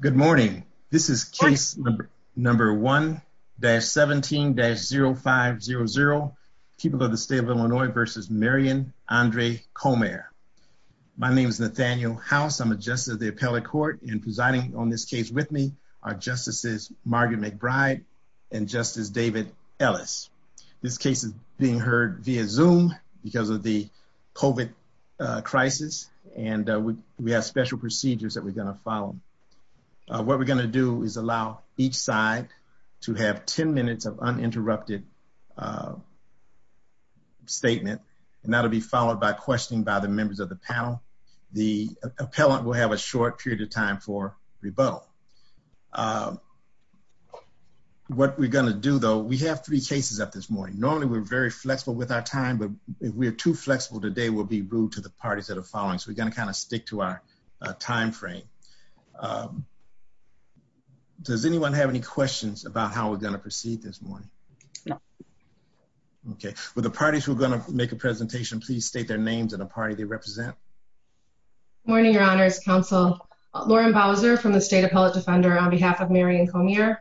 Good morning. This is case number 1-17-0500, People of the State of Illinois v. Marion Andre Comair. My name is Nathaniel House. I'm a Justice of the Appellate Court and presiding on this case with me are Justices Margaret McBride and Justice David Ellis. This case is being heard via Zoom because of the COVID crisis and we have special procedures that we're going to follow. What we're going to do is allow each side to have 10 minutes of uninterrupted statement and that'll be followed by questioning by the members of the panel. The appellant will have a short period of time for rebuttal. What we're going to do though, we have three cases up this morning. Normally we're very flexible with our time, but if we're too flexible today we'll be rude to the parties that are following, so we're going to kind of stick to our time frame. Does anyone have any questions about how we're going to proceed this morning? No. Okay. Will the parties who are going to make a presentation please state their names and a party they represent? Good morning, Your Honors Counsel. Lauren Bowser from the State Appellate Defender on behalf of Marion Comair.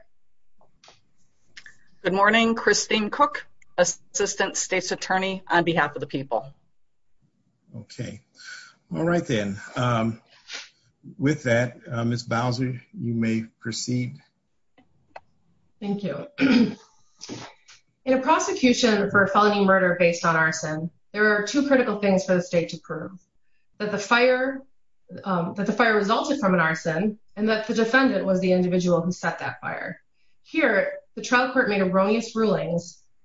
Good morning, Christine Cook, Assistant State's Attorney on behalf of the people. Okay. All right then. With that, Ms. Bowser, you may proceed. Thank you. In a prosecution for a felony murder based on arson, there are two critical things for the state to prove. That the fire resulted from an arson and that the defendant was the arsonist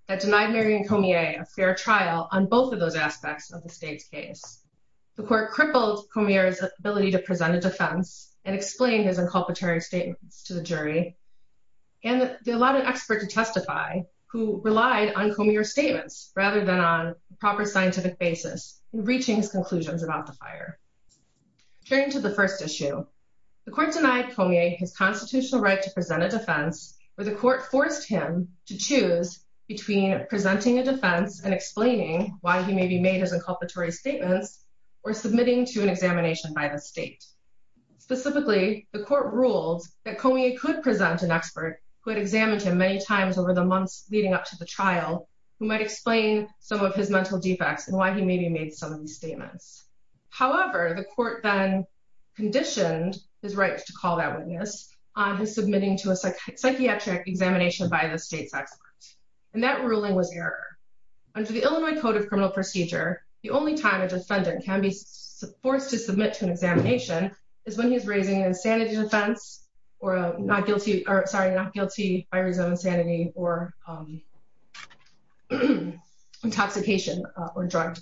that denied Marion Comair a fair trial on both of those aspects of the state's case. The court crippled Comair's ability to present a defense and explain his inculpatory statements to the jury, and they allowed an expert to testify who relied on Comair's statements rather than on proper scientific basis in reaching his conclusions about the fire. Turning to the first issue, the court denied Comair his constitutional right to present a defense where the court forced him to decide between presenting a defense and explaining why he maybe made his inculpatory statements or submitting to an examination by the state. Specifically, the court ruled that Comair could present an expert who had examined him many times over the months leading up to the trial who might explain some of his mental defects and why he maybe made some of these statements. However, the court then conditioned his right to call that witness on his submitting to a psychiatric examination by the state's court. That ruling was error. Under the Illinois Code of Criminal Procedure, the only time a defendant can be forced to submit to an examination is when he's raising an insanity defense or a not guilty, sorry, not guilty by reason of insanity or intoxication or drug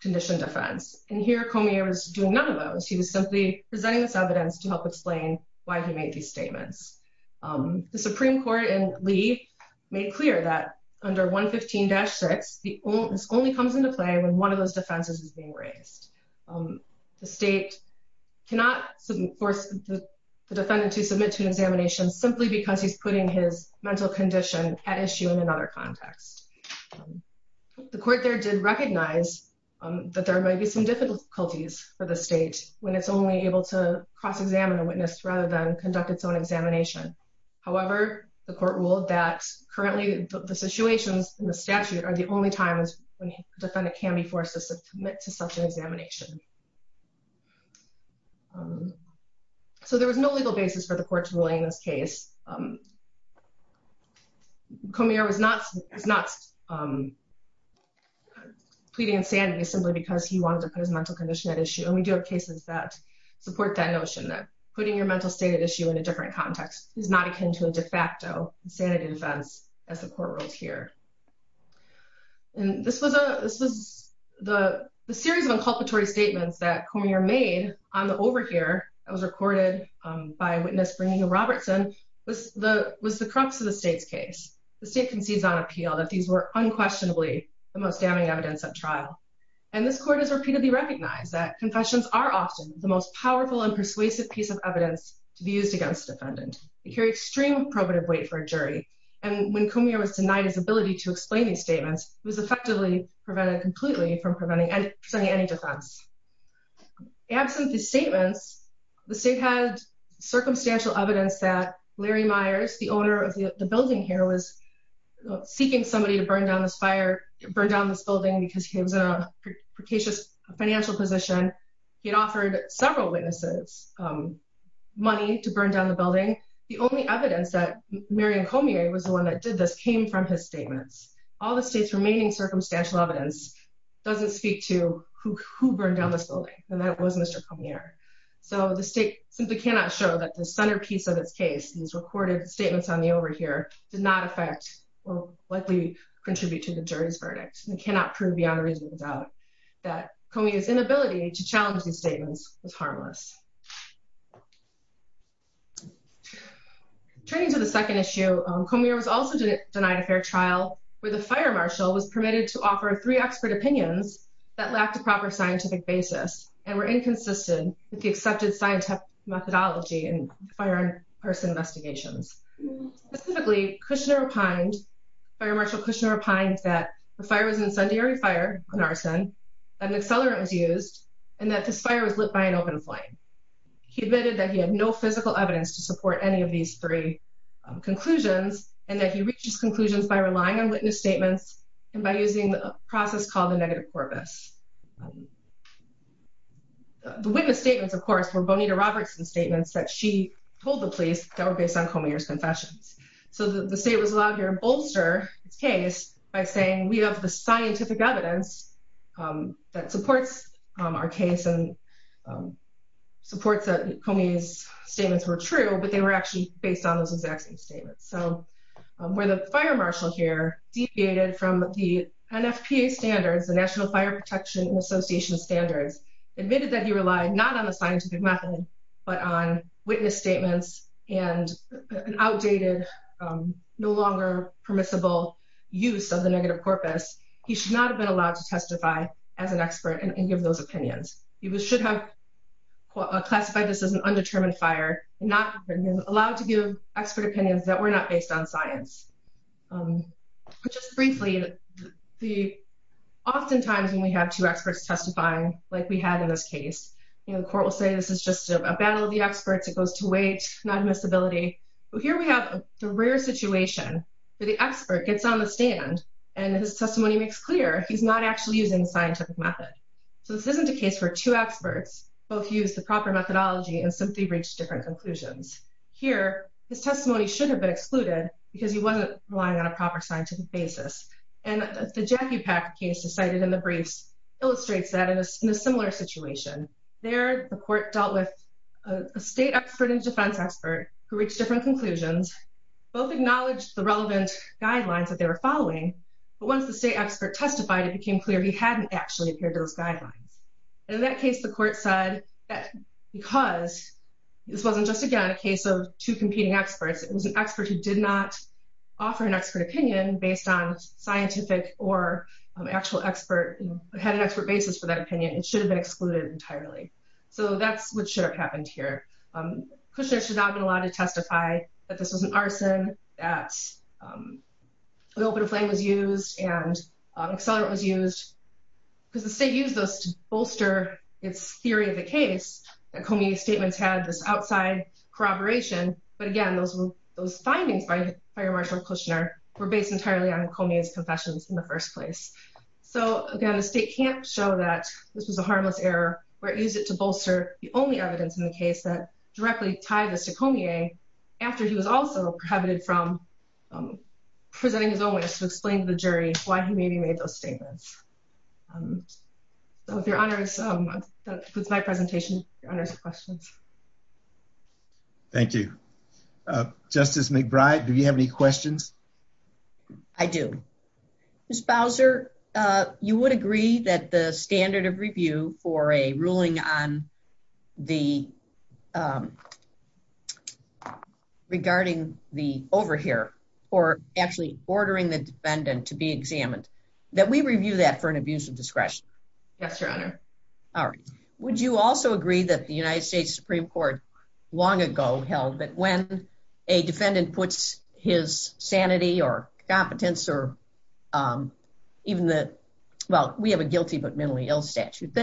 condition defense. And here Comair was doing none of those. He was simply presenting this evidence to help explain why he made these statements. The court ruled that under 115-6, this only comes into play when one of those defenses is being raised. The state cannot force the defendant to submit to an examination simply because he's putting his mental condition at issue in another context. The court there did recognize that there may be some difficulties for the state when it's only able to cross-examine a witness rather than conduct its own examination. However, the court ruled that currently the situations in the statute are the only times when a defendant can be forced to submit to such an examination. So there was no legal basis for the court ruling in this case. Comair was not pleading insanity simply because he wanted to put his mental condition at issue. And we do have cases that support that notion that putting your mental state at issue in a different context is not akin to a de facto insanity defense as the court ruled here. And this was a this was the series of inculpatory statements that Comair made on the overhear that was recorded by a witness bringing a Robertson was the was the crux of the state's case. The state concedes on appeal that these were unquestionably the most damning evidence at trial. And this court has repeatedly recognized that confessions are often the most powerful and persuasive piece of evidence to be used against defendant. They carry extreme probative weight for a jury. And when Comair was denied his ability to explain these statements, he was effectively prevented completely from presenting any defense. Absent these statements, the state had circumstantial evidence that Larry Myers, the owner of the building here, was seeking somebody to burn down this fire, burn down this building because he was a precocious financial position. He had offered several witnesses money to burn down the building. The only evidence that Marion Comair was the one that did this came from his statements. All the state's remaining circumstantial evidence doesn't speak to who burned down this building, and that was Mr. Comair. So the state simply cannot show that the centerpiece of its case, these recorded statements on the overhear, did not affect or likely contribute to the jury's verdict. We cannot prove beyond reasonable doubt that Comair's inability to challenge these statements was harmless. Turning to the second issue, Comair was also denied a fair trial where the fire marshal was permitted to offer three expert opinions that lacked a proper scientific basis and were inconsistent with the accepted scientific methodology and fire in person investigations. Specifically, fire marshal Kushner opined that the fire was an incendiary fire, an arson, that an accelerant was used, and that this fire was lit by an open flame. He admitted that he had no physical evidence to support any of these three conclusions and that he reached his conclusions by relying on witness statements and by using the process called the negative corpus. The witness statements, of course, were Bonita Robertson's statements that she told the police that were based on evidence. The state was allowed here to bolster its case by saying we have the scientific evidence that supports our case and supports that Comair's statements were true, but they were actually based on those exact same statements. So where the fire marshal here deviated from the NFPA standards, the National Fire Protection Association standards, admitted that he relied not on no longer permissible use of the negative corpus. He should not have been allowed to testify as an expert and give those opinions. He should have classified this as an undetermined fire and not been allowed to give expert opinions that were not based on science. Just briefly, oftentimes when we have two experts testifying, like we had in this case, the court will say this is just a battle of the experts, it goes to weight, not admissibility, but here we have the rare situation where the expert gets on the stand and his testimony makes clear he's not actually using scientific method. So this isn't a case where two experts both use the proper methodology and simply reach different conclusions. Here, his testimony should have been excluded because he wasn't relying on a proper scientific basis. And the Jackie Packer case cited in the briefs illustrates that in a similar situation. There, the court dealt with a state expert and defense expert who reached different conclusions, both acknowledged the relevant guidelines that they were following, but once the state expert testified, it became clear he hadn't actually appeared those guidelines. In that case, the court said that because this wasn't just, again, a case of two competing experts, it was an expert who did not offer an expert opinion based on scientific or actual expert, had an expert basis for that opinion, it should have been excluded entirely. So that's what should have happened here. Kushner should not have been allowed to testify that this was an arson, that the open flame was used, and accelerant was used, because the state used those to bolster its theory of the case, that Comey's statements had this outside corroboration, but again, those findings by Fire Marshal Kushner were based entirely on Comey's confessions in the first place. So again, the state can't show that this was a harmless error where it used it to the case that directly tied this to Comey after he was also prohibited from presenting his own ways to explain to the jury why he maybe made those statements. So with your honors, that concludes my presentation. Your honors have questions. Thank you. Justice McBride, do you have any questions? I do. Ms. Bowser, you would agree that the standard of review for a ruling on the regarding the over here, or actually ordering the defendant to be examined, that we review that for an abuse of discretion? Yes, your honor. All right. Would you also agree that the United States Supreme Court long ago held that when a defendant puts his sanity or competence or even the, well, we have a guilty but minimally ill statute,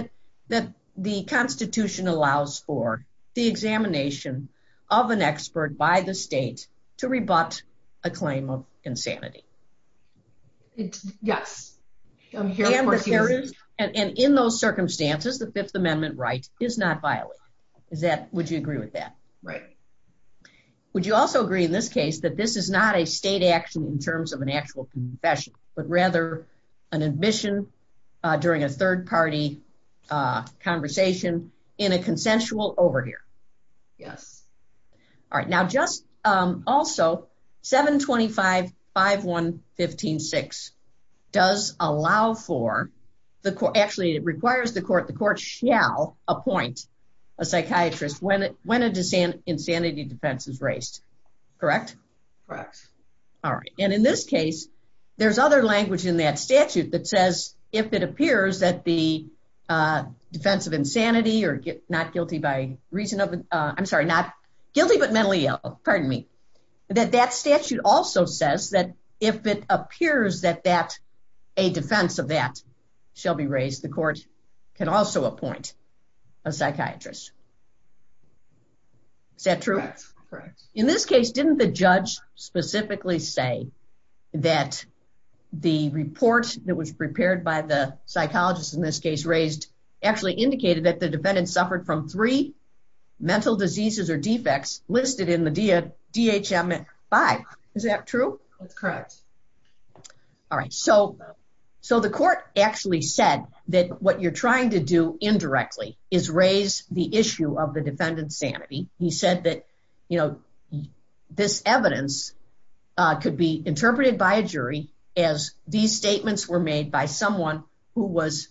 that the Constitution allows for the examination of an expert by the state to rebut a claim of insanity? Yes. And in those circumstances, the Fifth Amendment right is not violated. Would you agree with that? Right. Would you also agree in this case that this is not a state action in terms of an actual confession, but rather an admission during a third party conversation in a consensual over here? Yes. All right. Now just also, 725-515-6 does allow for, actually it requires the court, the court shall appoint a psychiatrist when a insanity defense is raised. Correct? Correct. All right. And in this case, there's other language in that statute that says if it appears that the defense of insanity or not guilty by reason of, I'm sorry, not guilty but mentally ill, pardon me, that that statute also says that if it appears that a defense of that shall be raised, the court can also appoint a psychiatrist. Is that true? Correct. In this case, didn't the judge specifically say that the report that was prepared by the psychologist in this case raised actually indicated that the defendant suffered from three mental diseases or defects listed in the DHM 5. Is that true? That's correct. All right. So the court actually said that what you're trying to do indirectly is raise the issue of the defendant's sanity. He said that, you know, this evidence could be interpreted by a jury as these statements were made by someone who was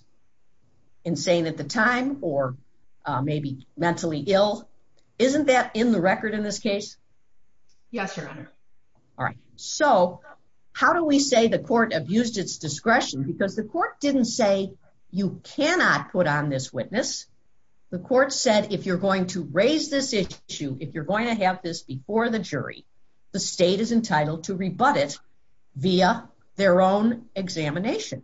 insane at the time or maybe mentally ill. Isn't that in the record in this case? Yes, Your Honor. All right. So how do we say the court abused its discretion? Because the court didn't say you cannot put on this witness. The court said if you're going to raise this issue, if you're going to have this before the jury, the state is entitled to rebut it via their own examination.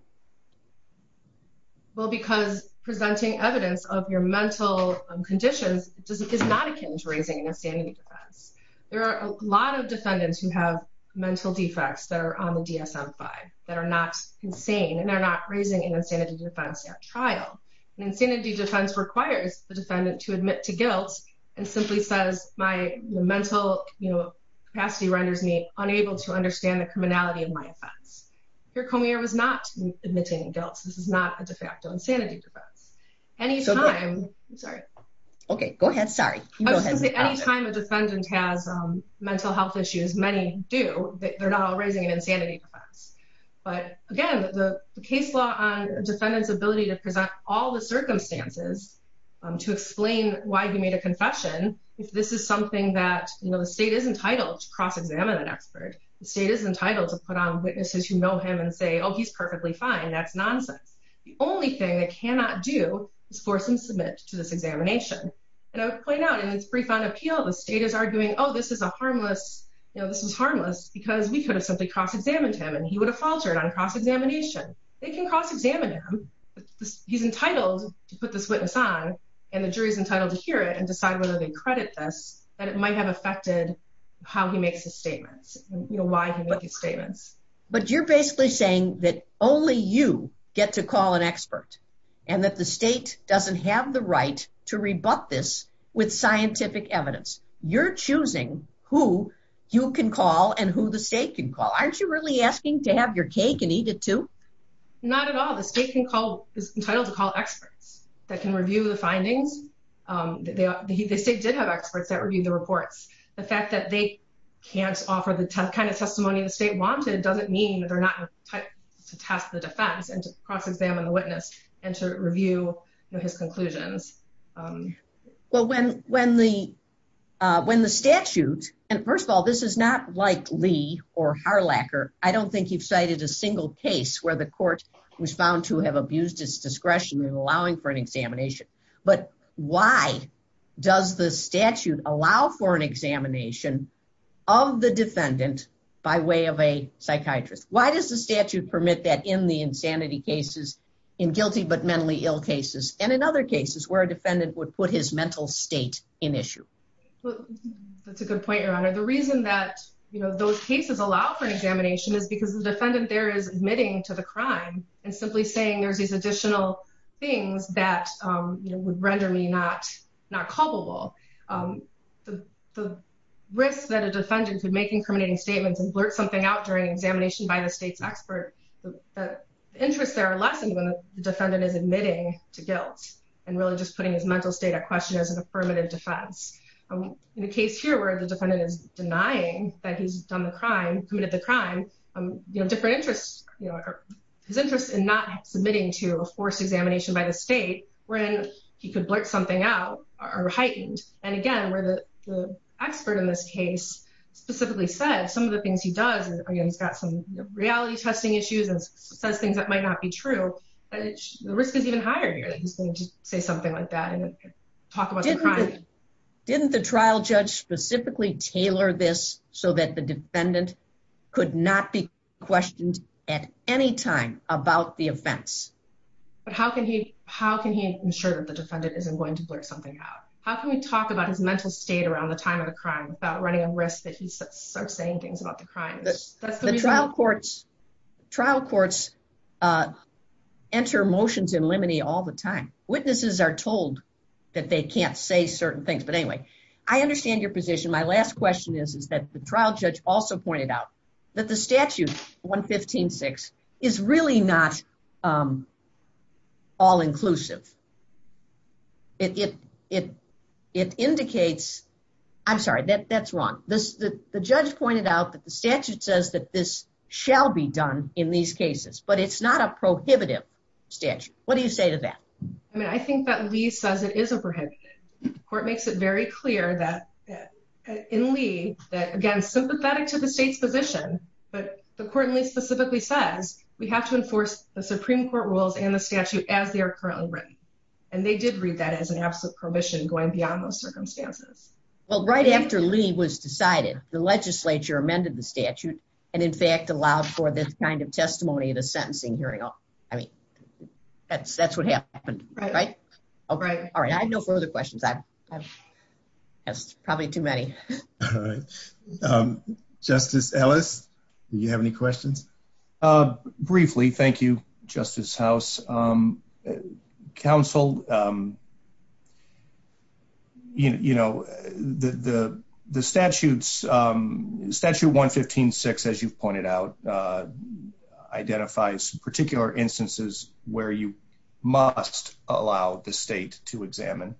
Well, because presenting evidence of your mental conditions is not akin to raising an insanity defense. There are a lot of defendants who have mental defects that are on the DSM 5 that are not insane and they're not raising an insanity defense at trial. An insanity defense requires the defendant to admit to guilt and simply says my mental capacity renders me unable to understand the criminality of my offense. Here, Comier was not admitting guilt. This is not a de facto insanity defense. Anytime a defendant has mental health issues, many do, they're not all raising an insanity defense. But again, the case law on a defendant's ability to present all the circumstances to explain why he made a confession, if this is something that, you know, the state is entitled to cross-examine an expert, the state is entitled to put on witnesses who know him and say, oh, he's perfectly fine, that's nonsense. The only thing they cannot do is force him to submit to this examination. And I would point out in its brief on appeal, the state is arguing, oh, this is a harmless, you know, this is harmless because we could have simply cross-examined him and he would have faltered on cross-examination. They can cross-examine him. He's entitled to put this witness on, and the jury's entitled to hear it and decide whether they credit this, that it might have affected how he makes his statements, you know, why he makes his statements. But you're basically saying that only you get to call an expert, and that the state doesn't have the right to rebut this with scientific evidence. You're choosing who you can call and who the state can call. Aren't you really asking to have your cake and eat it too? Not at all. The state is entitled to call experts that can review the findings. The state did have experts that reviewed the reports. The fact that they can't offer the kind of testimony the state wanted doesn't mean that they're not entitled to test the defense and to cross-examine the witness and to review his conclusions. Well, when the statute, and first of all, this is not like Lee or Harlacker. I don't think you've cited a single case where the court was found to have abused its discretion in allowing for an examination. But why does the statute allow for an examination of the defendant by way of a psychiatrist? Why does the statute permit that in the insanity cases, in guilty but mentally ill cases, and in other cases where a defendant would put his mental state in issue? That's a good point, Your Honor. The reason that, you know, those cases allow for an examination is because the defendant there is admitting to the crime and simply saying there's these additional things that would render me not culpable. The risk that a defendant could make incriminating statements and blurt something out during an examination by the state's expert, the interests there are lessened when the defendant is admitting to guilt and really just putting his mental state at question as a permanent defense. In the case here where the defendant is denying that he's done the crime, committed the crime, you know, different interests, you know, his interest in not submitting to a forced examination by the state wherein he could blurt something out are heightened. And again, where the expert in this case specifically said some of the things he does, he's got some reality testing issues and says things that might not be true, the risk is even higher here that he's going to say something like that and talk about the crime. Didn't the trial judge specifically tailor this so that the defendant could not be questioned at any time about the offense? But how can he ensure that the defendant isn't going to blurt something out? How can we talk about his mental state around the time of the crime without running a risk that he starts saying things about the crime? The trial courts, trial courts enter motions in limine all the time. Witnesses are told that they can't say certain things. But anyway, I understand your position. My last question is, is that the trial judge also pointed out that the I'm sorry, that's wrong. The judge pointed out that the statute says that this shall be done in these cases, but it's not a prohibitive statute. What do you say to that? I mean, I think that Lee says it is a prohibited. Court makes it very clear that in Lee, that again, sympathetic to the state's position, but the court Lee specifically says, we have to enforce the Supreme Court rules and the statute as they are currently written. And they did read that as an absolute prohibition going beyond those circumstances. Well, right after Lee was decided, the legislature amended the statute, and in fact, allowed for this kind of testimony in a sentencing hearing. I mean, that's that's what happened, right? All right. All right. I have no further questions. That's probably too many. All right. Justice Ellis, do you have any questions? Briefly, thank you, Justice House. Counsel, you know, the statutes, Statute 115.6, as you've pointed out, identifies particular instances where you must allow the state to examine.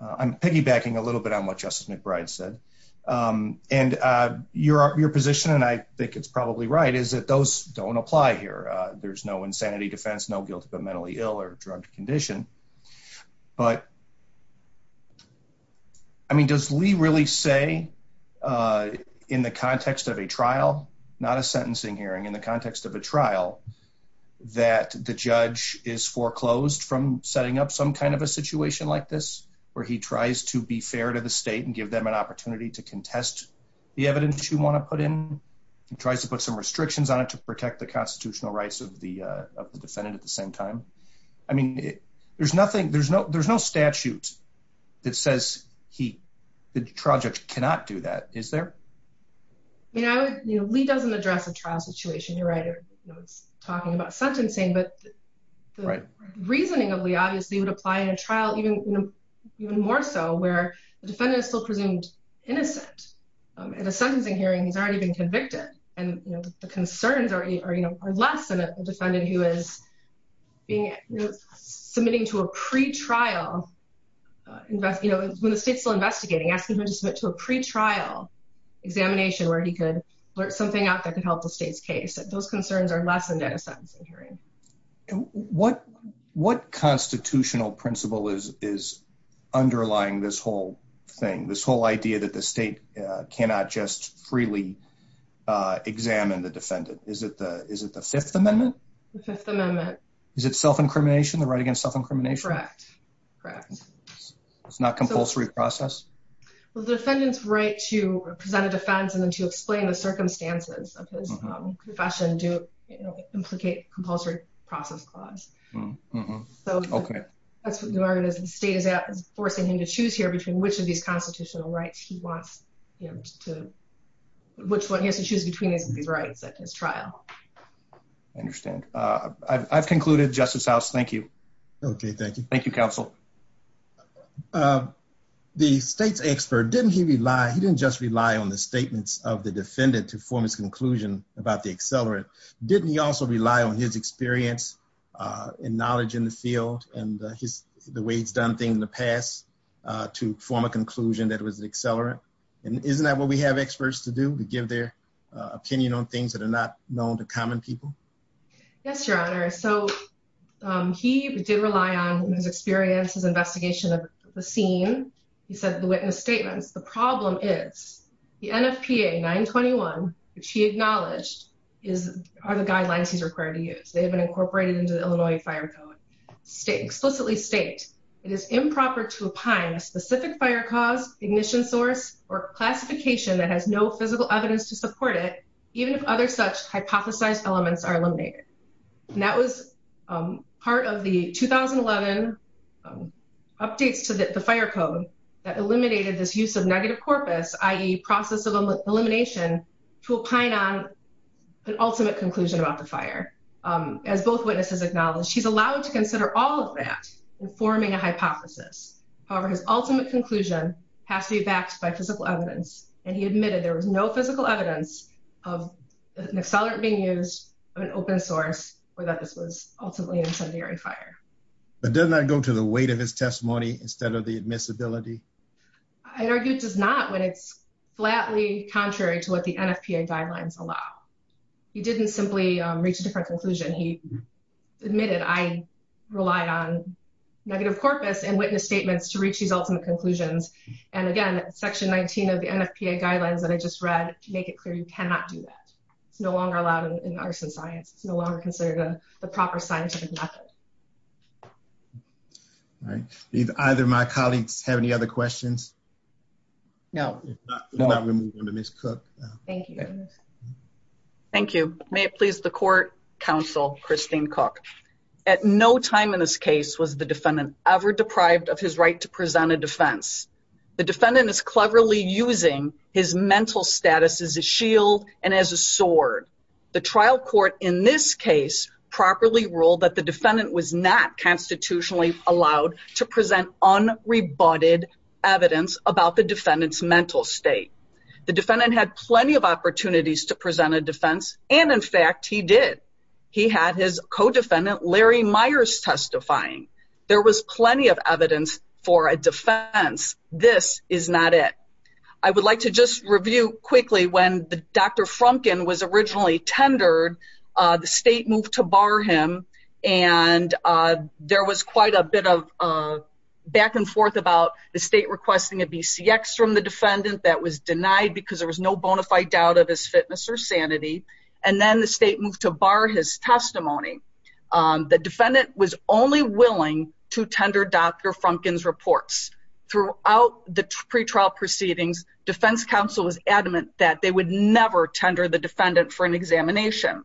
I'm piggybacking a little bit on what Justice McBride said. And your position, and I think it's probably right, is that those don't apply here. There's no insanity defense, no guilty but mentally ill or drugged condition. But I mean, does Lee really say, in the context of a trial, not a sentencing hearing, in the context of a trial, that the judge is foreclosed from setting up some kind of a opportunity to contest the evidence you want to put in? He tries to put some restrictions on it to protect the constitutional rights of the defendant at the same time. I mean, there's nothing, there's no statute that says he, the trial judge cannot do that, is there? You know, Lee doesn't address a trial situation, you're right. He's talking about sentencing, but the reasoning of Lee obviously would apply in a trial even more so where the defendant is still presumed innocent. In a sentencing hearing, he's already been convicted. And the concerns are less than a defendant who is submitting to a pretrial, when the state's still investigating, asking him to submit to a pretrial examination where he could blurt something out that could help the state's case. Those concerns are lessened in a sentencing hearing. What constitutional principle is underlying this whole thing, this whole idea that the state cannot just freely examine the defendant? Is it the Fifth Amendment? The Fifth Amendment. Is it self-incrimination, the right against self-incrimination? Correct, correct. It's not compulsory process? The defendant's right to present a defense and then to explain the circumstances of his confession do implicate compulsory process clause. So the state is forcing him to choose here between which of these constitutional rights he wants him to, which one he has to choose between these rights at his trial. I understand. I've concluded. Justice House, thank you. Okay, thank you. Thank you, counsel. The state's expert, didn't he rely, he didn't just rely on the statements of the defendant to form his conclusion about the accelerant. Didn't he also rely on his experience and knowledge in the field and the way he's done things in the past to form a conclusion that it was an accelerant? And isn't that what we have experts to do, to give their opinion on things that are not known to common people? Yes, Your Honor. So he did rely on his experience, his investigation of the scene. He said the witness statements. The problem is the NFPA 921, which he acknowledged, are the guidelines he's required to use. They have been incorporated into the Illinois Fire Code. State, explicitly state, it is improper to opine a specific fire cause, ignition source, or classification that has no physical evidence to are eliminated. And that was part of the 2011 updates to the fire code that eliminated this use of negative corpus, i.e. process of elimination to opine on an ultimate conclusion about the fire. As both witnesses acknowledged, she's allowed to consider all of that in forming a hypothesis. However, his ultimate conclusion has to be backed by physical evidence. And he admitted there was no physical evidence of an accelerant being used, of an open source, or that this was ultimately an incendiary fire. But does that go to the weight of his testimony instead of the admissibility? I'd argue it does not when it's flatly contrary to what the NFPA guidelines allow. He didn't simply reach a different conclusion. He admitted, I rely on negative corpus and witness statements to reach these ultimate conclusions. And again, section 19 of the NFPA guidelines that I just read, make it clear you cannot do that. It's no longer allowed in arson science. It's no longer considered the proper scientific method. All right. Do either of my colleagues have any other questions? No. If not, we'll move on to Ms. Cook. Thank you. Thank you. May it please the court, counsel Christine Cook. At no time in this case was the defendant ever deprived of his right to present a defense. The defendant is cleverly using his mental status as a shield and as a sword. The trial court in this case properly ruled that the defendant was not constitutionally allowed to present unrebutted evidence about the defendant's mental state. The defendant had plenty of opportunities to present a defense. And in fact, he did. He had his co-defendant, Larry Myers, testifying. There was plenty of evidence for a defense. This is not it. I would like to just review quickly when Dr. Frumkin was originally tendered, the state moved to bar him. And there was quite a bit of back and forth about the state requesting a BCX from the defendant that was denied because there was no bona fide doubt of his fitness or sanity. And then the state moved to bar his testimony. The defendant was only willing to tender Dr. Frumkin's reports throughout the pretrial proceedings. Defense counsel was adamant that they would never tender the defendant for an examination.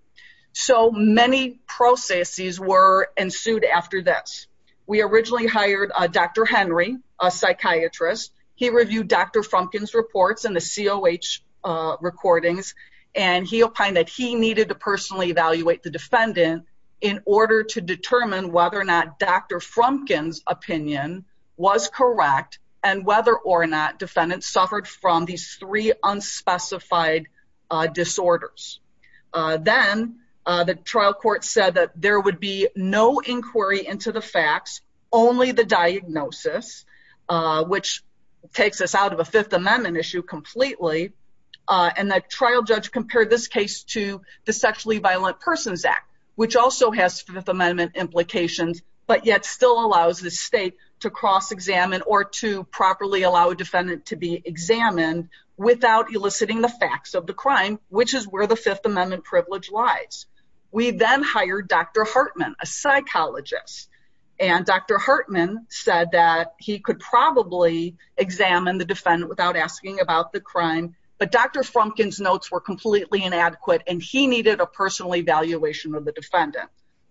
So many processes were ensued after this. We originally hired Dr. Henry, a psychiatrist. He reviewed Dr. Frumkin's reports and the COH recordings. And he opined that he needed to personally evaluate the defendant in order to determine whether or not Dr. Frumkin's opinion was correct and whether or not defendants suffered from these three unspecified disorders. Then the trial court said that there would be no inquiry into the facts, only the diagnosis, which takes us out of a Fifth Amendment issue completely. And the trial judge compared this case to the Sexually Violent Persons Act, which also has Fifth Amendment implications, but yet still allows the state to cross-examine or to properly allow a defendant to be examined without eliciting the facts of the crime, which is where the Fifth Amendment privilege lies. We then hired Dr. And Dr. Hartman said that he could probably examine the defendant without asking about the crime. But Dr. Frumkin's notes were completely inadequate and he needed a personal evaluation of the defendant.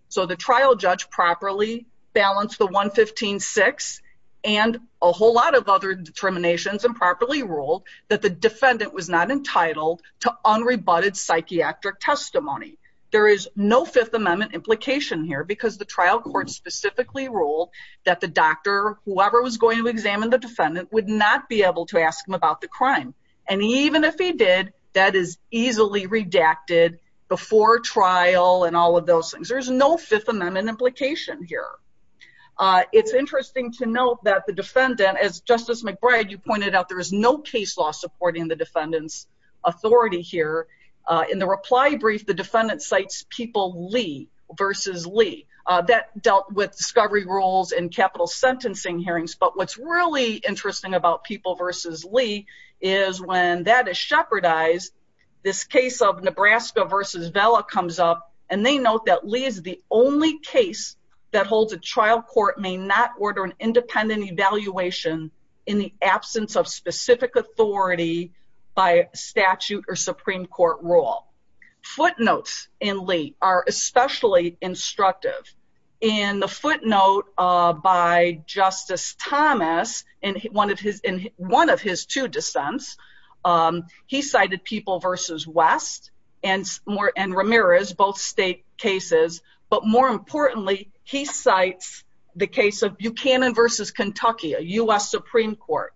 So the trial judge properly balanced the 115-6 and a whole lot of other determinations and properly ruled that the defendant was not entitled to unrebutted psychiatric testimony. There is no Fifth Amendment implication here because the trial court specifically ruled that the doctor, whoever was going to examine the defendant, would not be able to ask him about the crime. And even if he did, that is easily redacted before trial and all of those things. There's no Fifth Amendment implication here. It's interesting to note that the defendant, as Justice McBride, you pointed out, there is no case law supporting the defendant's authority here. In the reply brief, the defendant cites People v. Lee. That dealt with discovery rules and capital sentencing hearings. But what's really interesting about People v. Lee is when that is shepherdized, this case of Nebraska v. Vella comes up and they note that Lee is the only case that holds a trial court may not order an independent evaluation in the absence of specific authority by statute or Supreme Court. Footnotes in Lee are especially instructive. In the footnote by Justice Thomas, in one of his two dissents, he cited People v. West and Ramirez, both state cases. But more importantly, he cites the case of Buchanan v. Kentucky, a U.S. Supreme Court,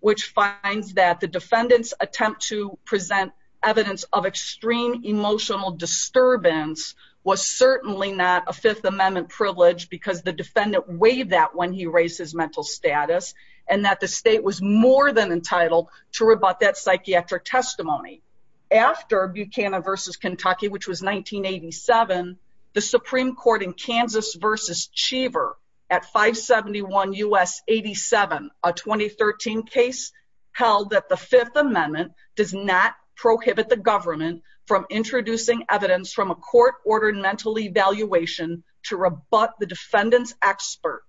which finds that the defendant's attempt to present evidence of extreme emotional disturbance was certainly not a Fifth Amendment privilege because the defendant waived that when he raised his mental status and that the state was more than entitled to rebut that psychiatric testimony. After Buchanan v. Kentucky, which was 1987, the Supreme Court in Kansas v. Cheever at 571 U.S. 87, a 2013 case, held that the Fifth Amendment does not prohibit the government from introducing evidence from a court-ordered mental evaluation to rebut the defendant's expert.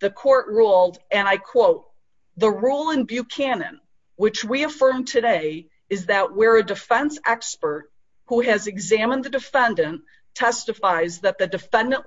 The court ruled, and I quote, When a defendent presents evidence through a psychological expert who has examined him, the government, likewise, is permitted to use the only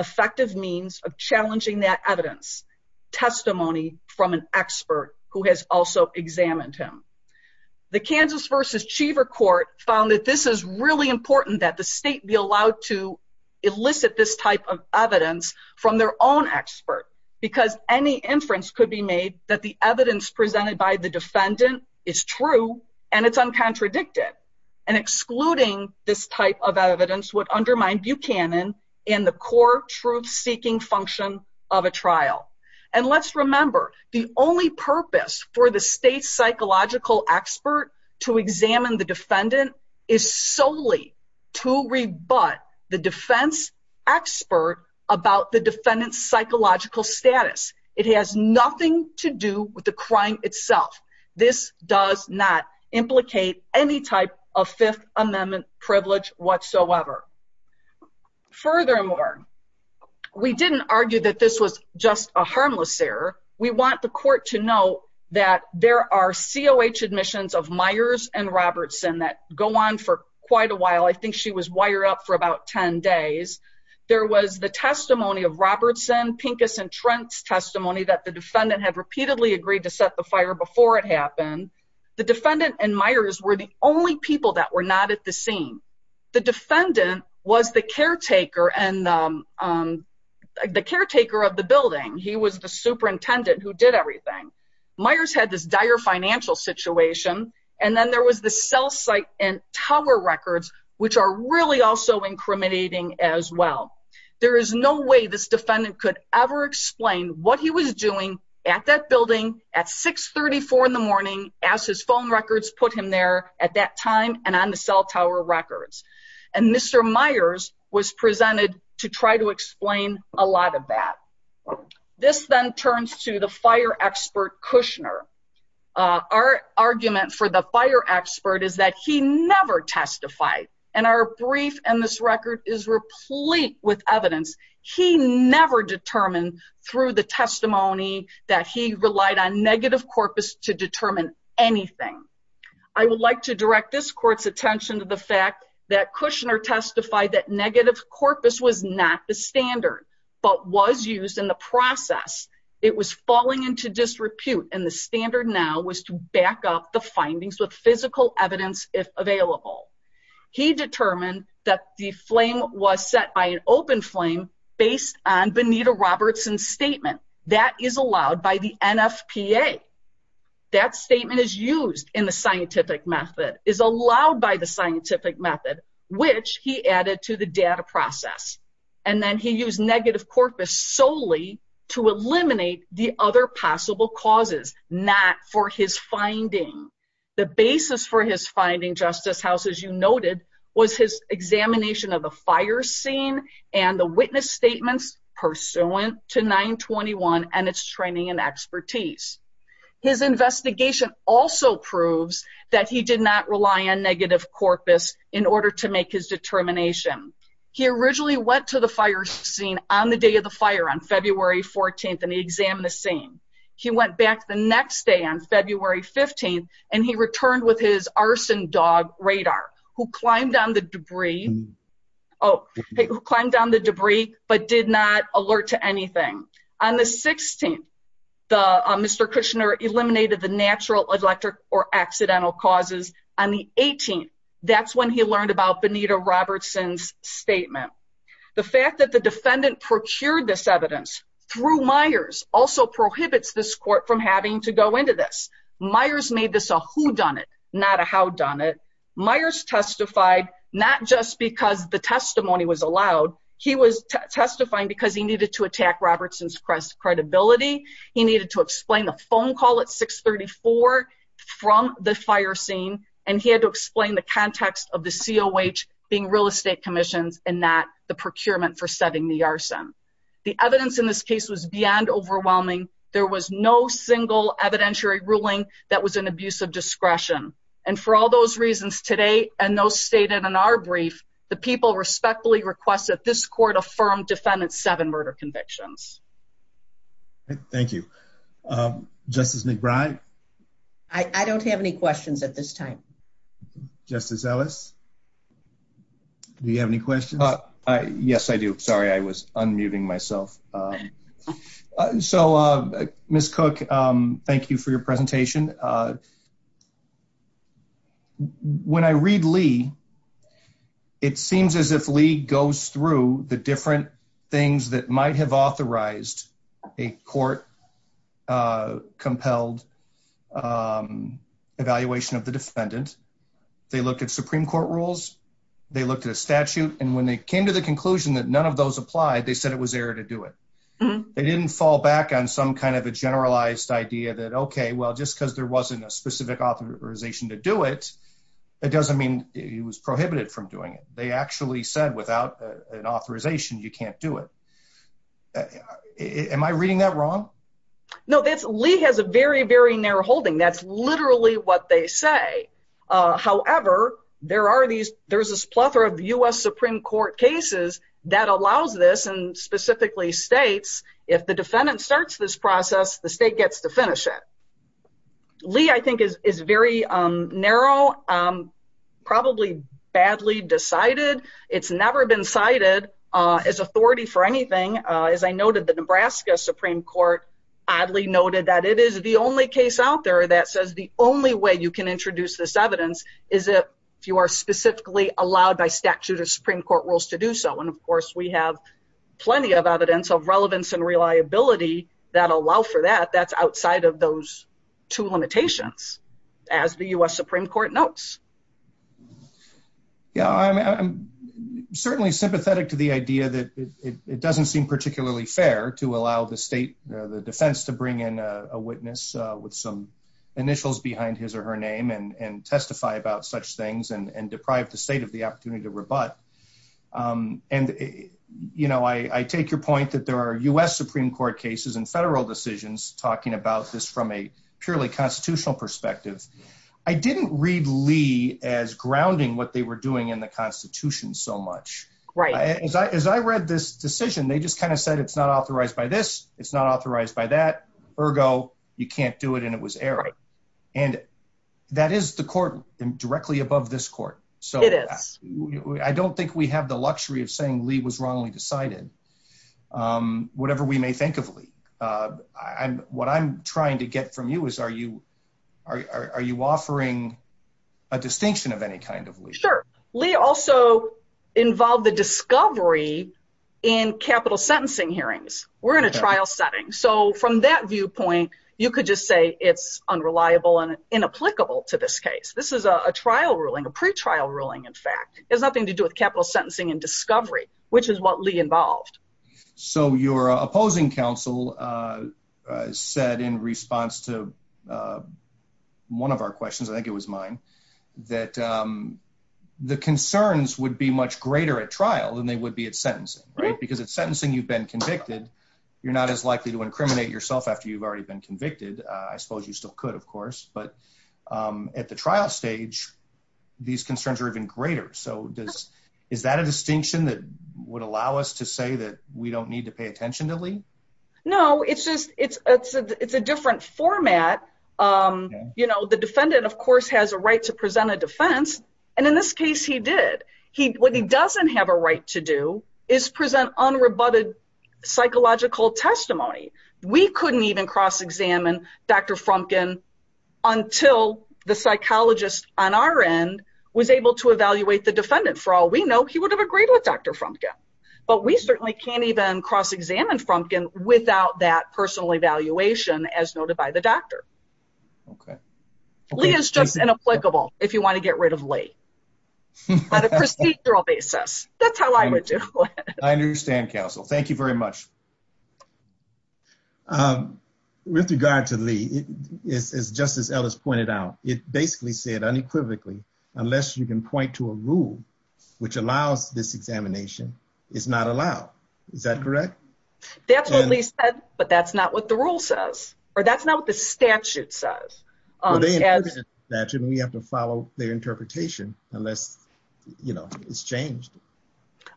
effective means of challenging that evidence testimony from an expert who has also examined him. The Kansas v. Cheever case set a man who was not guilty from 1973 to $550 a year. The court found that this is really important that the state be allowed to elicit this type of evidence from their own expert, because any inference could be made that the evidence presented by the defendant is true and it's uncontradicted, and excluding this type of evidence would undermine Buchanan in the core truth-seeking function of a trial. And let's remember, the only purpose for the state's psychological expert to examine the defendant is solely to rebut the defense expert about the defendant's psychological status. It has nothing to do with the crime itself. This does not implicate any type of Fifth Amendment privilege whatsoever. Furthermore, we didn't argue that this was just a harmless error. We want the court to know that there are COH admissions of Myers and Robertson that go on for quite a while. I think she was wired up for about 10 days. There was the testimony of Robertson, Pincus, and Trent's testimony that the defendant had repeatedly agreed to set the fire before it happened. The defendant and Myers were the only people that were not at the scene. The defendant was the caretaker of the building. He was the superintendent who did everything. Myers had this dire financial situation, and then there was the cell site and tower records, which are really also incriminating as well. There is no way this defendant could ever explain what he was doing at that building at 634 in the morning as his phone records put him there at that time and on the cell tower records. Mr. Myers was presented to try to explain a lot of that. This then turns to the fire expert Kushner. Our argument for the fire expert is that he never testified, and our brief in this record is replete with evidence. He never determined through the testimony that he relied on negative corpus to determine anything. I would like to direct this court's attention to the fact that Kushner testified that negative corpus was not the standard, but was used in the process. It was falling into disrepute, and the standard now was to back up the findings with physical evidence, if available. He determined that the flame was set by an open flame based on Benita Robertson's statement. That is allowed by the NFPA. That statement is used in the scientific method, is allowed by the scientific method, which he added to the data process. And then he used negative corpus solely to eliminate the other possible causes, not for his finding. The basis for his finding, Justice House, as you noted, was his examination of the fire scene and the witness statements pursuant to 921 and its training and expertise. His investigation also proves that he did not rely on negative corpus in order to make his determination. He originally went to the fire scene on the day of the fire on February 14th, and he examined the scene. He went back the next day on February 15th, and he returned with his arson dog, Radar, who climbed on the debris, but did not alert to anything. On the 16th, Mr. Kushner eliminated the natural, electric, or accidental causes. On the 18th, that's when he learned about Benita Robertson's statement. The fact that the defendant procured this evidence through Myers also prohibits this court from having to go into this. Myers made this a whodunit, not a howdunit. Myers testified not just because the testimony was allowed. He was testifying because he needed to attack Robertson's credibility. He needed to explain the phone call at 634 from the fire scene, and he had to explain the context of the COH being real estate commissions and not the procurement for setting the arson. The evidence in this case was beyond overwhelming. There was no single evidentiary ruling that was an abuse of discretion. And for all those reasons today, and those stated in our brief, the people respectfully request that this court affirm defendant's seven murder convictions. Thank you. Justice McBride? I don't have any questions at this time. Justice Ellis? Do you have any questions? Yes, I do. Sorry, I was unmuting myself. So, Ms. Cook, thank you for your presentation. When I read Lee, it seems as if Lee goes through the different things that might have authorized a court-compelled evaluation of the defendant. They looked at Supreme Court rules, they looked at a statute, and when they came to the conclusion that none of those applied, they said it was error to do it. They didn't fall back on some kind of a generalized idea that, okay, well, just because there wasn't a specific authorization to do it, it doesn't mean it was prohibited from doing it. They actually said without an authorization, you can't do it. Am I reading that wrong? No, Lee has a very, very narrow holding. That's literally what they say. However, there's this plethora of U.S. Supreme Court cases that allows this, and specifically states, if the defendant starts this process, the state gets to finish it. Lee, I think, is very narrow, probably badly decided. It's never been cited as authority for anything. As I noted, the Nebraska Supreme Court oddly noted that it is the only case out there that says the only way you can introduce this evidence is if you are specifically allowed by statute or Supreme Court rules to do so. Of course, we have plenty of evidence of relevance and reliability that allow for that. That's outside of those two limitations, as the U.S. Supreme Court notes. Yeah, I'm certainly sympathetic to the idea that it doesn't seem particularly fair to allow the defense to bring in a witness with some initials behind his or her name and testify about such things and deprive the state of the opportunity to rebut. I take your point that there are U.S. Supreme Court cases and federal decisions talking about this from a purely constitutional perspective. I didn't read Lee as grounding what they were doing in the Constitution so much. Right. As I read this decision, they just kind of said it's not authorized by this, it's not authorized by that. Ergo, you can't do it, and it was error. Right. And that is the court directly above this court. It is. I don't think we have the luxury of saying Lee was wrongly decided, whatever we may think of Lee. What I'm trying to get from you is, are you offering a distinction of any kind of Lee? Sure. Lee also involved the discovery in capital sentencing hearings. We're in a trial setting. So from that viewpoint, you could just say it's unreliable and inapplicable to this case. This is a trial ruling, a pretrial ruling, in fact. It has nothing to do with capital sentencing and discovery, which is what Lee involved. So your opposing counsel said in response to one of our questions, I think it was mine, that the concerns would be much greater at trial than they would be at sentencing, right? Because at sentencing, you've been convicted. You're not as likely to incriminate yourself after you've already been convicted. I suppose you still could, of course. But at the trial stage, these concerns are even greater. So is that a distinction that would allow us to say that we don't need to pay attention to Lee? No, it's a different format. The defendant, of course, has a right to present a defense. And in this case he did. What he doesn't have a right to do is present unrebutted psychological testimony. We couldn't even cross-examine Dr. Frumkin until the psychologist on our end was able to evaluate the defendant. For all we know, he would have agreed with Dr. Frumkin. But we certainly can't even cross-examine Frumkin without that personal evaluation as noted by the doctor. Lee is just inapplicable if you want to get rid of Lee on a procedural basis. That's how I would do it. I understand, counsel. Thank you very much. With regard to Lee, just as Ellis pointed out, it basically said unequivocally, unless you can point to a rule which allows this examination, it's not allowed. Is that correct? That's what Lee said, but that's not what the rule says. Or that's not what the statute says. We have to follow their interpretation unless, you know, it's changed.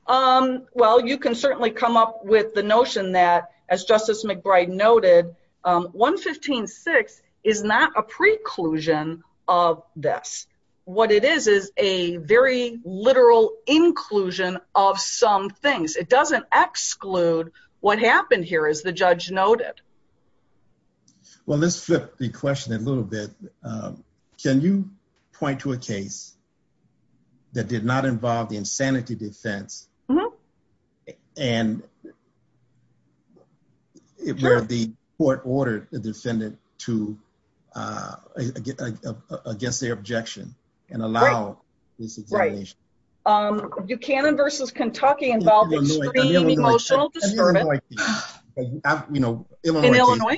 Well, you can certainly come up with the notion that, as Justice McBride noted, 115.6 is not a preclusion of this. What it is is a very literal inclusion of some things. It doesn't exclude what happened here, as the judge noted. Well, let's flip the question a little bit. Can you point to a case that did not involve the insanity defense and where the court ordered the defendant against their objection and allow this examination? Buchanan v. Kentucky involved extreme emotional disturbance. In Illinois?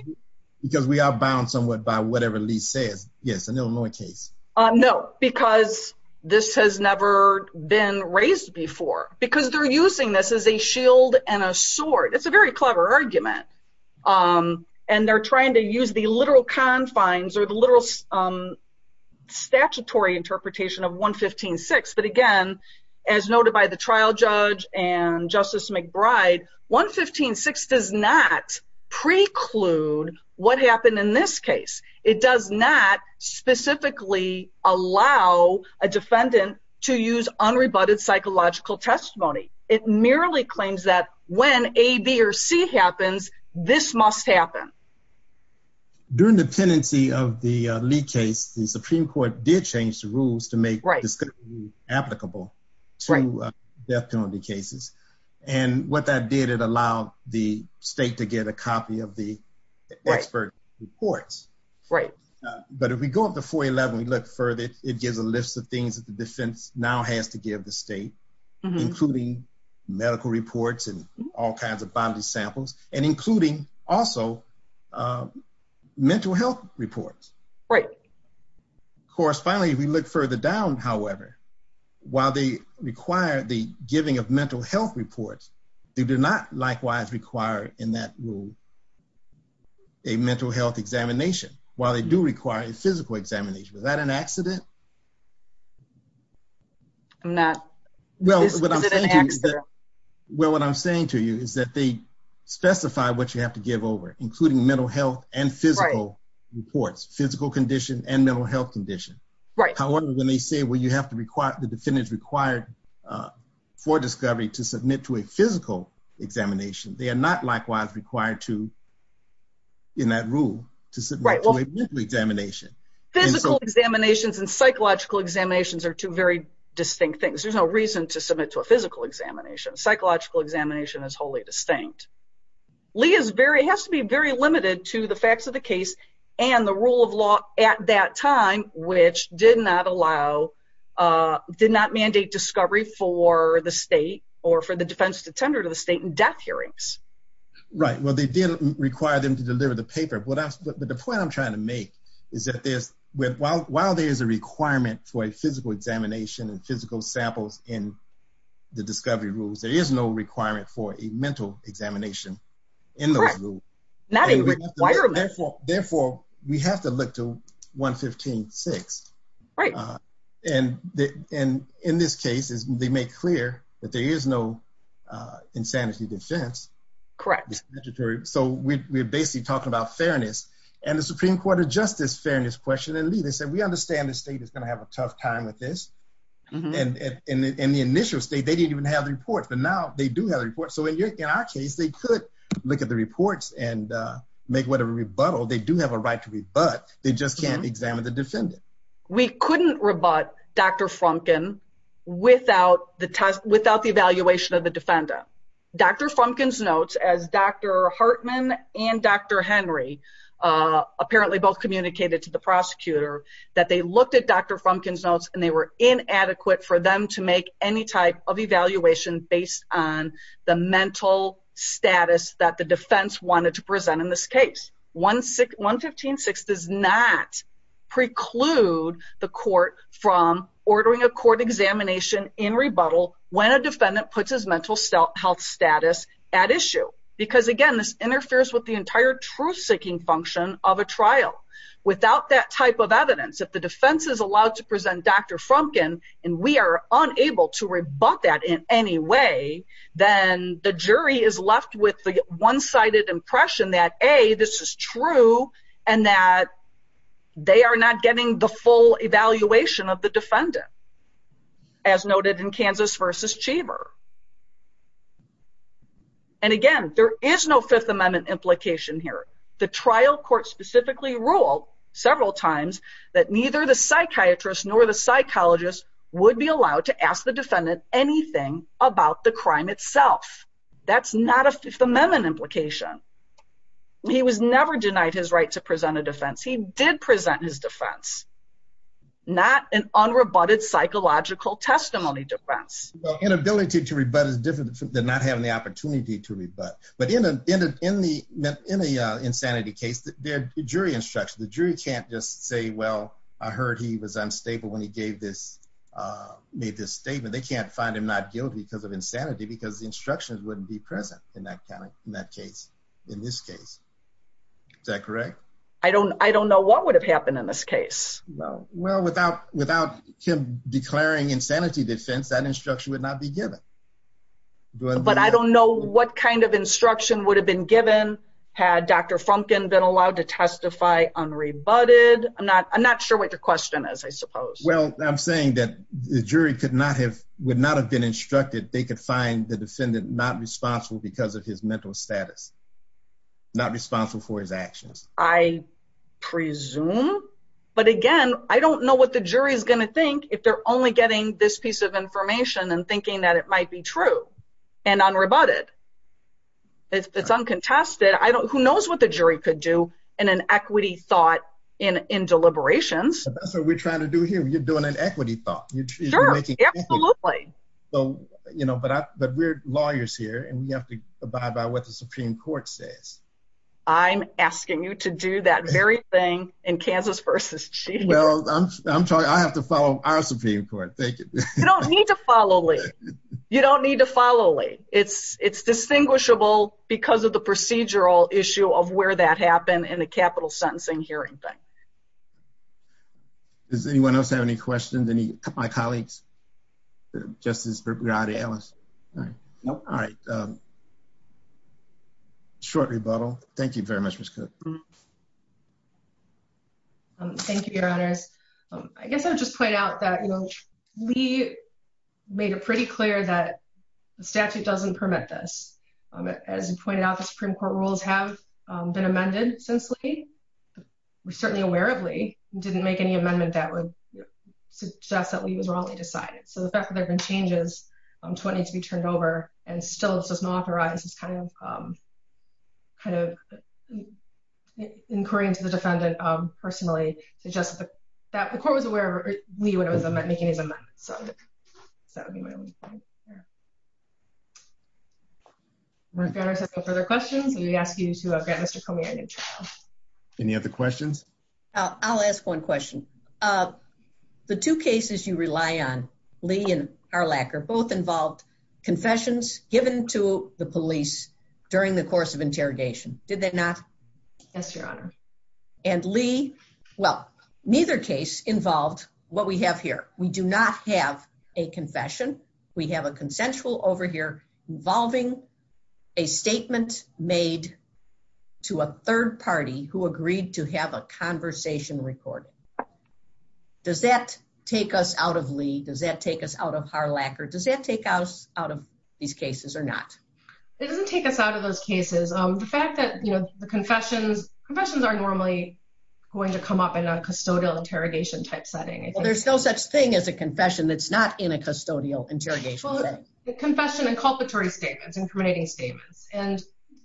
Because we are bound somewhat by whatever Lee says. Yes, an Illinois case. No, because this has never been raised before. Because they're using this as a shield and a sword. It's a very clever argument. And they're trying to use the literal confines or the literal statutory interpretation of 115.6. But again, as noted by the trial judge and Justice McBride, 115.6 does not preclude what happened in this case. It does not specifically allow a defendant to use unrebutted psychological testimony. It merely claims that when A, B, or C happens, this must happen. During the pendency of the Lee case, the Supreme Court did change the rules to make this applicable to death penalty cases. And what that did, it allowed the state to get a copy of the expert reports. But if we go up to 411, we look further, it gives a list of things that the defense now has to give the state, including medical reports and all kinds of body samples and including also mental health reports. Correspondingly, if we look further down, however, while they require the giving of mental health reports, they do not likewise require in that rule a mental health examination. While they do require a physical examination. Was that an accident? Well, what I'm saying to you is that they specify what you have to give over, including mental health and physical reports, physical condition and mental health condition. However, when they say, well, you have to require, the defendant is required for discovery to submit to a physical examination, they are not likewise required to, in that rule, to submit to a mental examination. Physical examinations and psychological examinations are two very distinct things. There's no reason to submit to a physical examination. Psychological examination is wholly distinct. Lee has to be very limited to the facts of the case and the rule of law at that time, which did not mandate discovery for the state or for the defense to tender to the state in death hearings. Right. Well, they did require them to deliver the paper. But the point I'm trying to make is that while there is a requirement for a physical examination and physical samples in the discovery rules, there is no requirement for a mental examination in those rules. Correct. Not a requirement. Therefore, we have to look to 115.6. Right. And in this case, they make clear that there is no insanity defense. Correct. So we're basically talking about fairness. And the Supreme Court adjusts this fairness question. And Lee, they said, we understand the state is going to have a tough time with this. And in the initial state, they didn't even have the report. But now they do have a report. So in our case, they could look at the reports and make whatever rebuttal. They do have a right to rebut. They just can't examine the defendant. We couldn't rebut Dr. Frumkin without the evaluation of the defendant. Dr. Frumkin's notes, as Dr. Hartman and Dr. Henry apparently both communicated to the prosecutor, that they looked at Dr. Frumkin's notes and they were inadequate for them to make any type of evaluation based on the mental status that the defense wanted to present in this case. 115.6 does not preclude the court from ordering a court examination in rebuttal when a defendant puts his mental health status at issue. Because again, this interferes with the entire truth-seeking function of a trial. Without that type of evidence, if the defense is allowed to present Dr. Frumkin and we are unable to rebut that in any way, then the jury is left with the one-sided impression that, A, this is true and that they are not getting the full evaluation of the defendant, as noted in Kansas v. Cheever. And again, there is no Fifth Amendment implication here. The trial court specifically ruled several times that neither the psychiatrist nor the psychologist would be allowed to ask the defendant anything about the crime itself. That's not a Fifth Amendment implication. He was never denied his right to present a defense. He did present his defense. Not an unrebutted psychological testimony defense. Inability to rebut is different than not having the opportunity to rebut. But in an insanity case, the jury can't just say, well, I heard he was unstable when he made this statement. They can't find him not guilty because of insanity because the instructions wouldn't be present in this case. Is that correct? I don't know what would have happened in this case. Well, without him declaring insanity defense, that instruction would not be given. But I don't know what kind of instruction would have been given had Dr. Frumkin been allowed to testify unrebutted. I'm not sure what your question is, I suppose. Well, I'm saying that the jury would not have been instructed. They could find the defendant not responsible because of his mental status, not responsible for his actions. I presume. But again, I don't know what the jury is going to think if they're only getting this piece of information and thinking that it might be true and unrebutted. It's uncontested. Who knows what the jury could do in an equity thought in deliberations. That's what we're trying to do here. You're doing an equity thought. Sure, absolutely. But we're lawyers here, and we have to abide by what the Supreme Court says. I'm asking you to do that very thing in Kansas v. Chief. Well, I have to follow our Supreme Court. Thank you. You don't need to follow Lee. You don't need to follow Lee. It's distinguishable because of the procedural issue of where that happened in the capital sentencing hearing thing. Does anyone else have any questions, any of my colleagues? Justice Berard-Ellis. All right. Short rebuttal. Thank you very much, Ms. Cook. Thank you, Your Honors. I guess I'll just point out that Lee made it pretty clear that the statute doesn't permit this. As he pointed out, the Supreme Court rules have been amended since Lee. We certainly aware of Lee, didn't make any amendment that would suggest that Lee was wrongly decided. So the fact that there have been changes to what needs to be turned over and still it's just not authorized is kind of inquiring to the defendant personally, suggests that the court was aware of Lee when it was making his amendment. So that would be my only point there. If Your Honors has no further questions, we ask you to grant Mr. Comey a new trial. Any other questions? I'll ask one question. The two cases you rely on, Lee and Harlacker, both involved confessions given to the police during the course of interrogation. Did they not? Yes, Your Honor. And Lee? Well, neither case involved what we have here. We do not have a confession. We have a consensual over here involving a statement made to a third party who agreed to have a conversation recorded. Does that take us out of Lee? Does that take us out of Harlacker? Does that take us out of these cases or not? It doesn't take us out of those cases. The fact that, you know, the confessions, confessions are normally going to come up in a custodial interrogation type setting. Well, there's no such thing as a confession that's not in a custodial interrogation setting. Well, the confession and culpatory statements, incriminating statements. And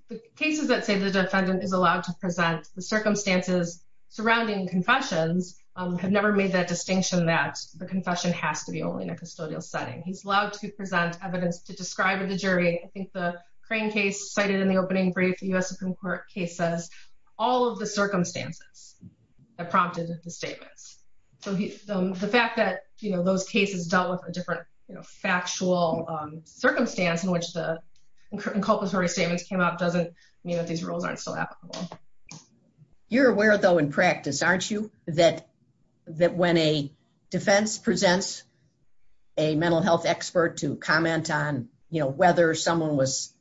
the cases that say the defendant is allowed to present the circumstances surrounding confessions have never made that distinction that the confession has to be only in a custodial setting. He's allowed to present evidence to describe the jury. I think the Crane case cited in the opening brief, the U.S. Supreme Court case says all of the circumstances that prompted the statements. So the fact that, you know, those cases dealt with a different factual circumstance in which the inculpatory statements came out doesn't mean that these rules aren't still applicable. You're aware, though, in practice, aren't you? That when a defense presents a mental health expert to comment on, you know, whether someone was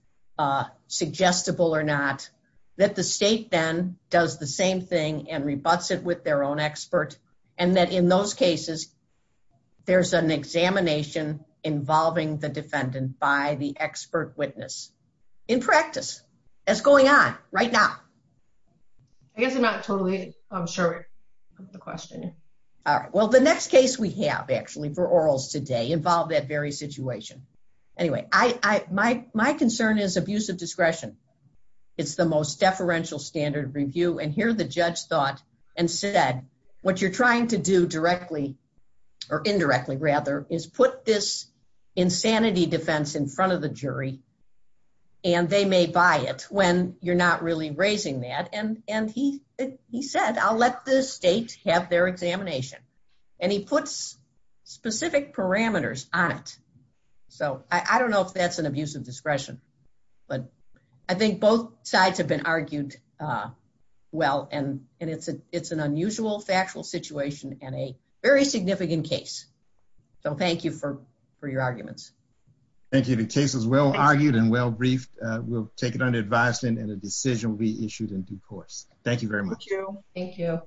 suggestible or not, that the state then does the same thing and rebutts it with their own expert. And that in those cases, there's an examination involving the defendant by the expert witness. In practice, that's going on right now. I guess I'm not totally sure of the question. All right. Well, the next case we have actually for orals today involved that very situation. Anyway, my concern is abusive discretion. and said, what you're trying to do directly or indirectly, rather, is put this insanity defense in front of the jury, and they may buy it when you're not really raising that. And he said, I'll let the state have their examination. And he puts specific parameters on it. So I don't know if that's an abusive discretion. But I think both sides have been argued well. And it's an unusual factual situation and a very significant case. So thank you for your arguments. Thank you. The case is well argued and well briefed. We'll take it under advisement and a decision will be issued in due course. Thank you very much. Thank you.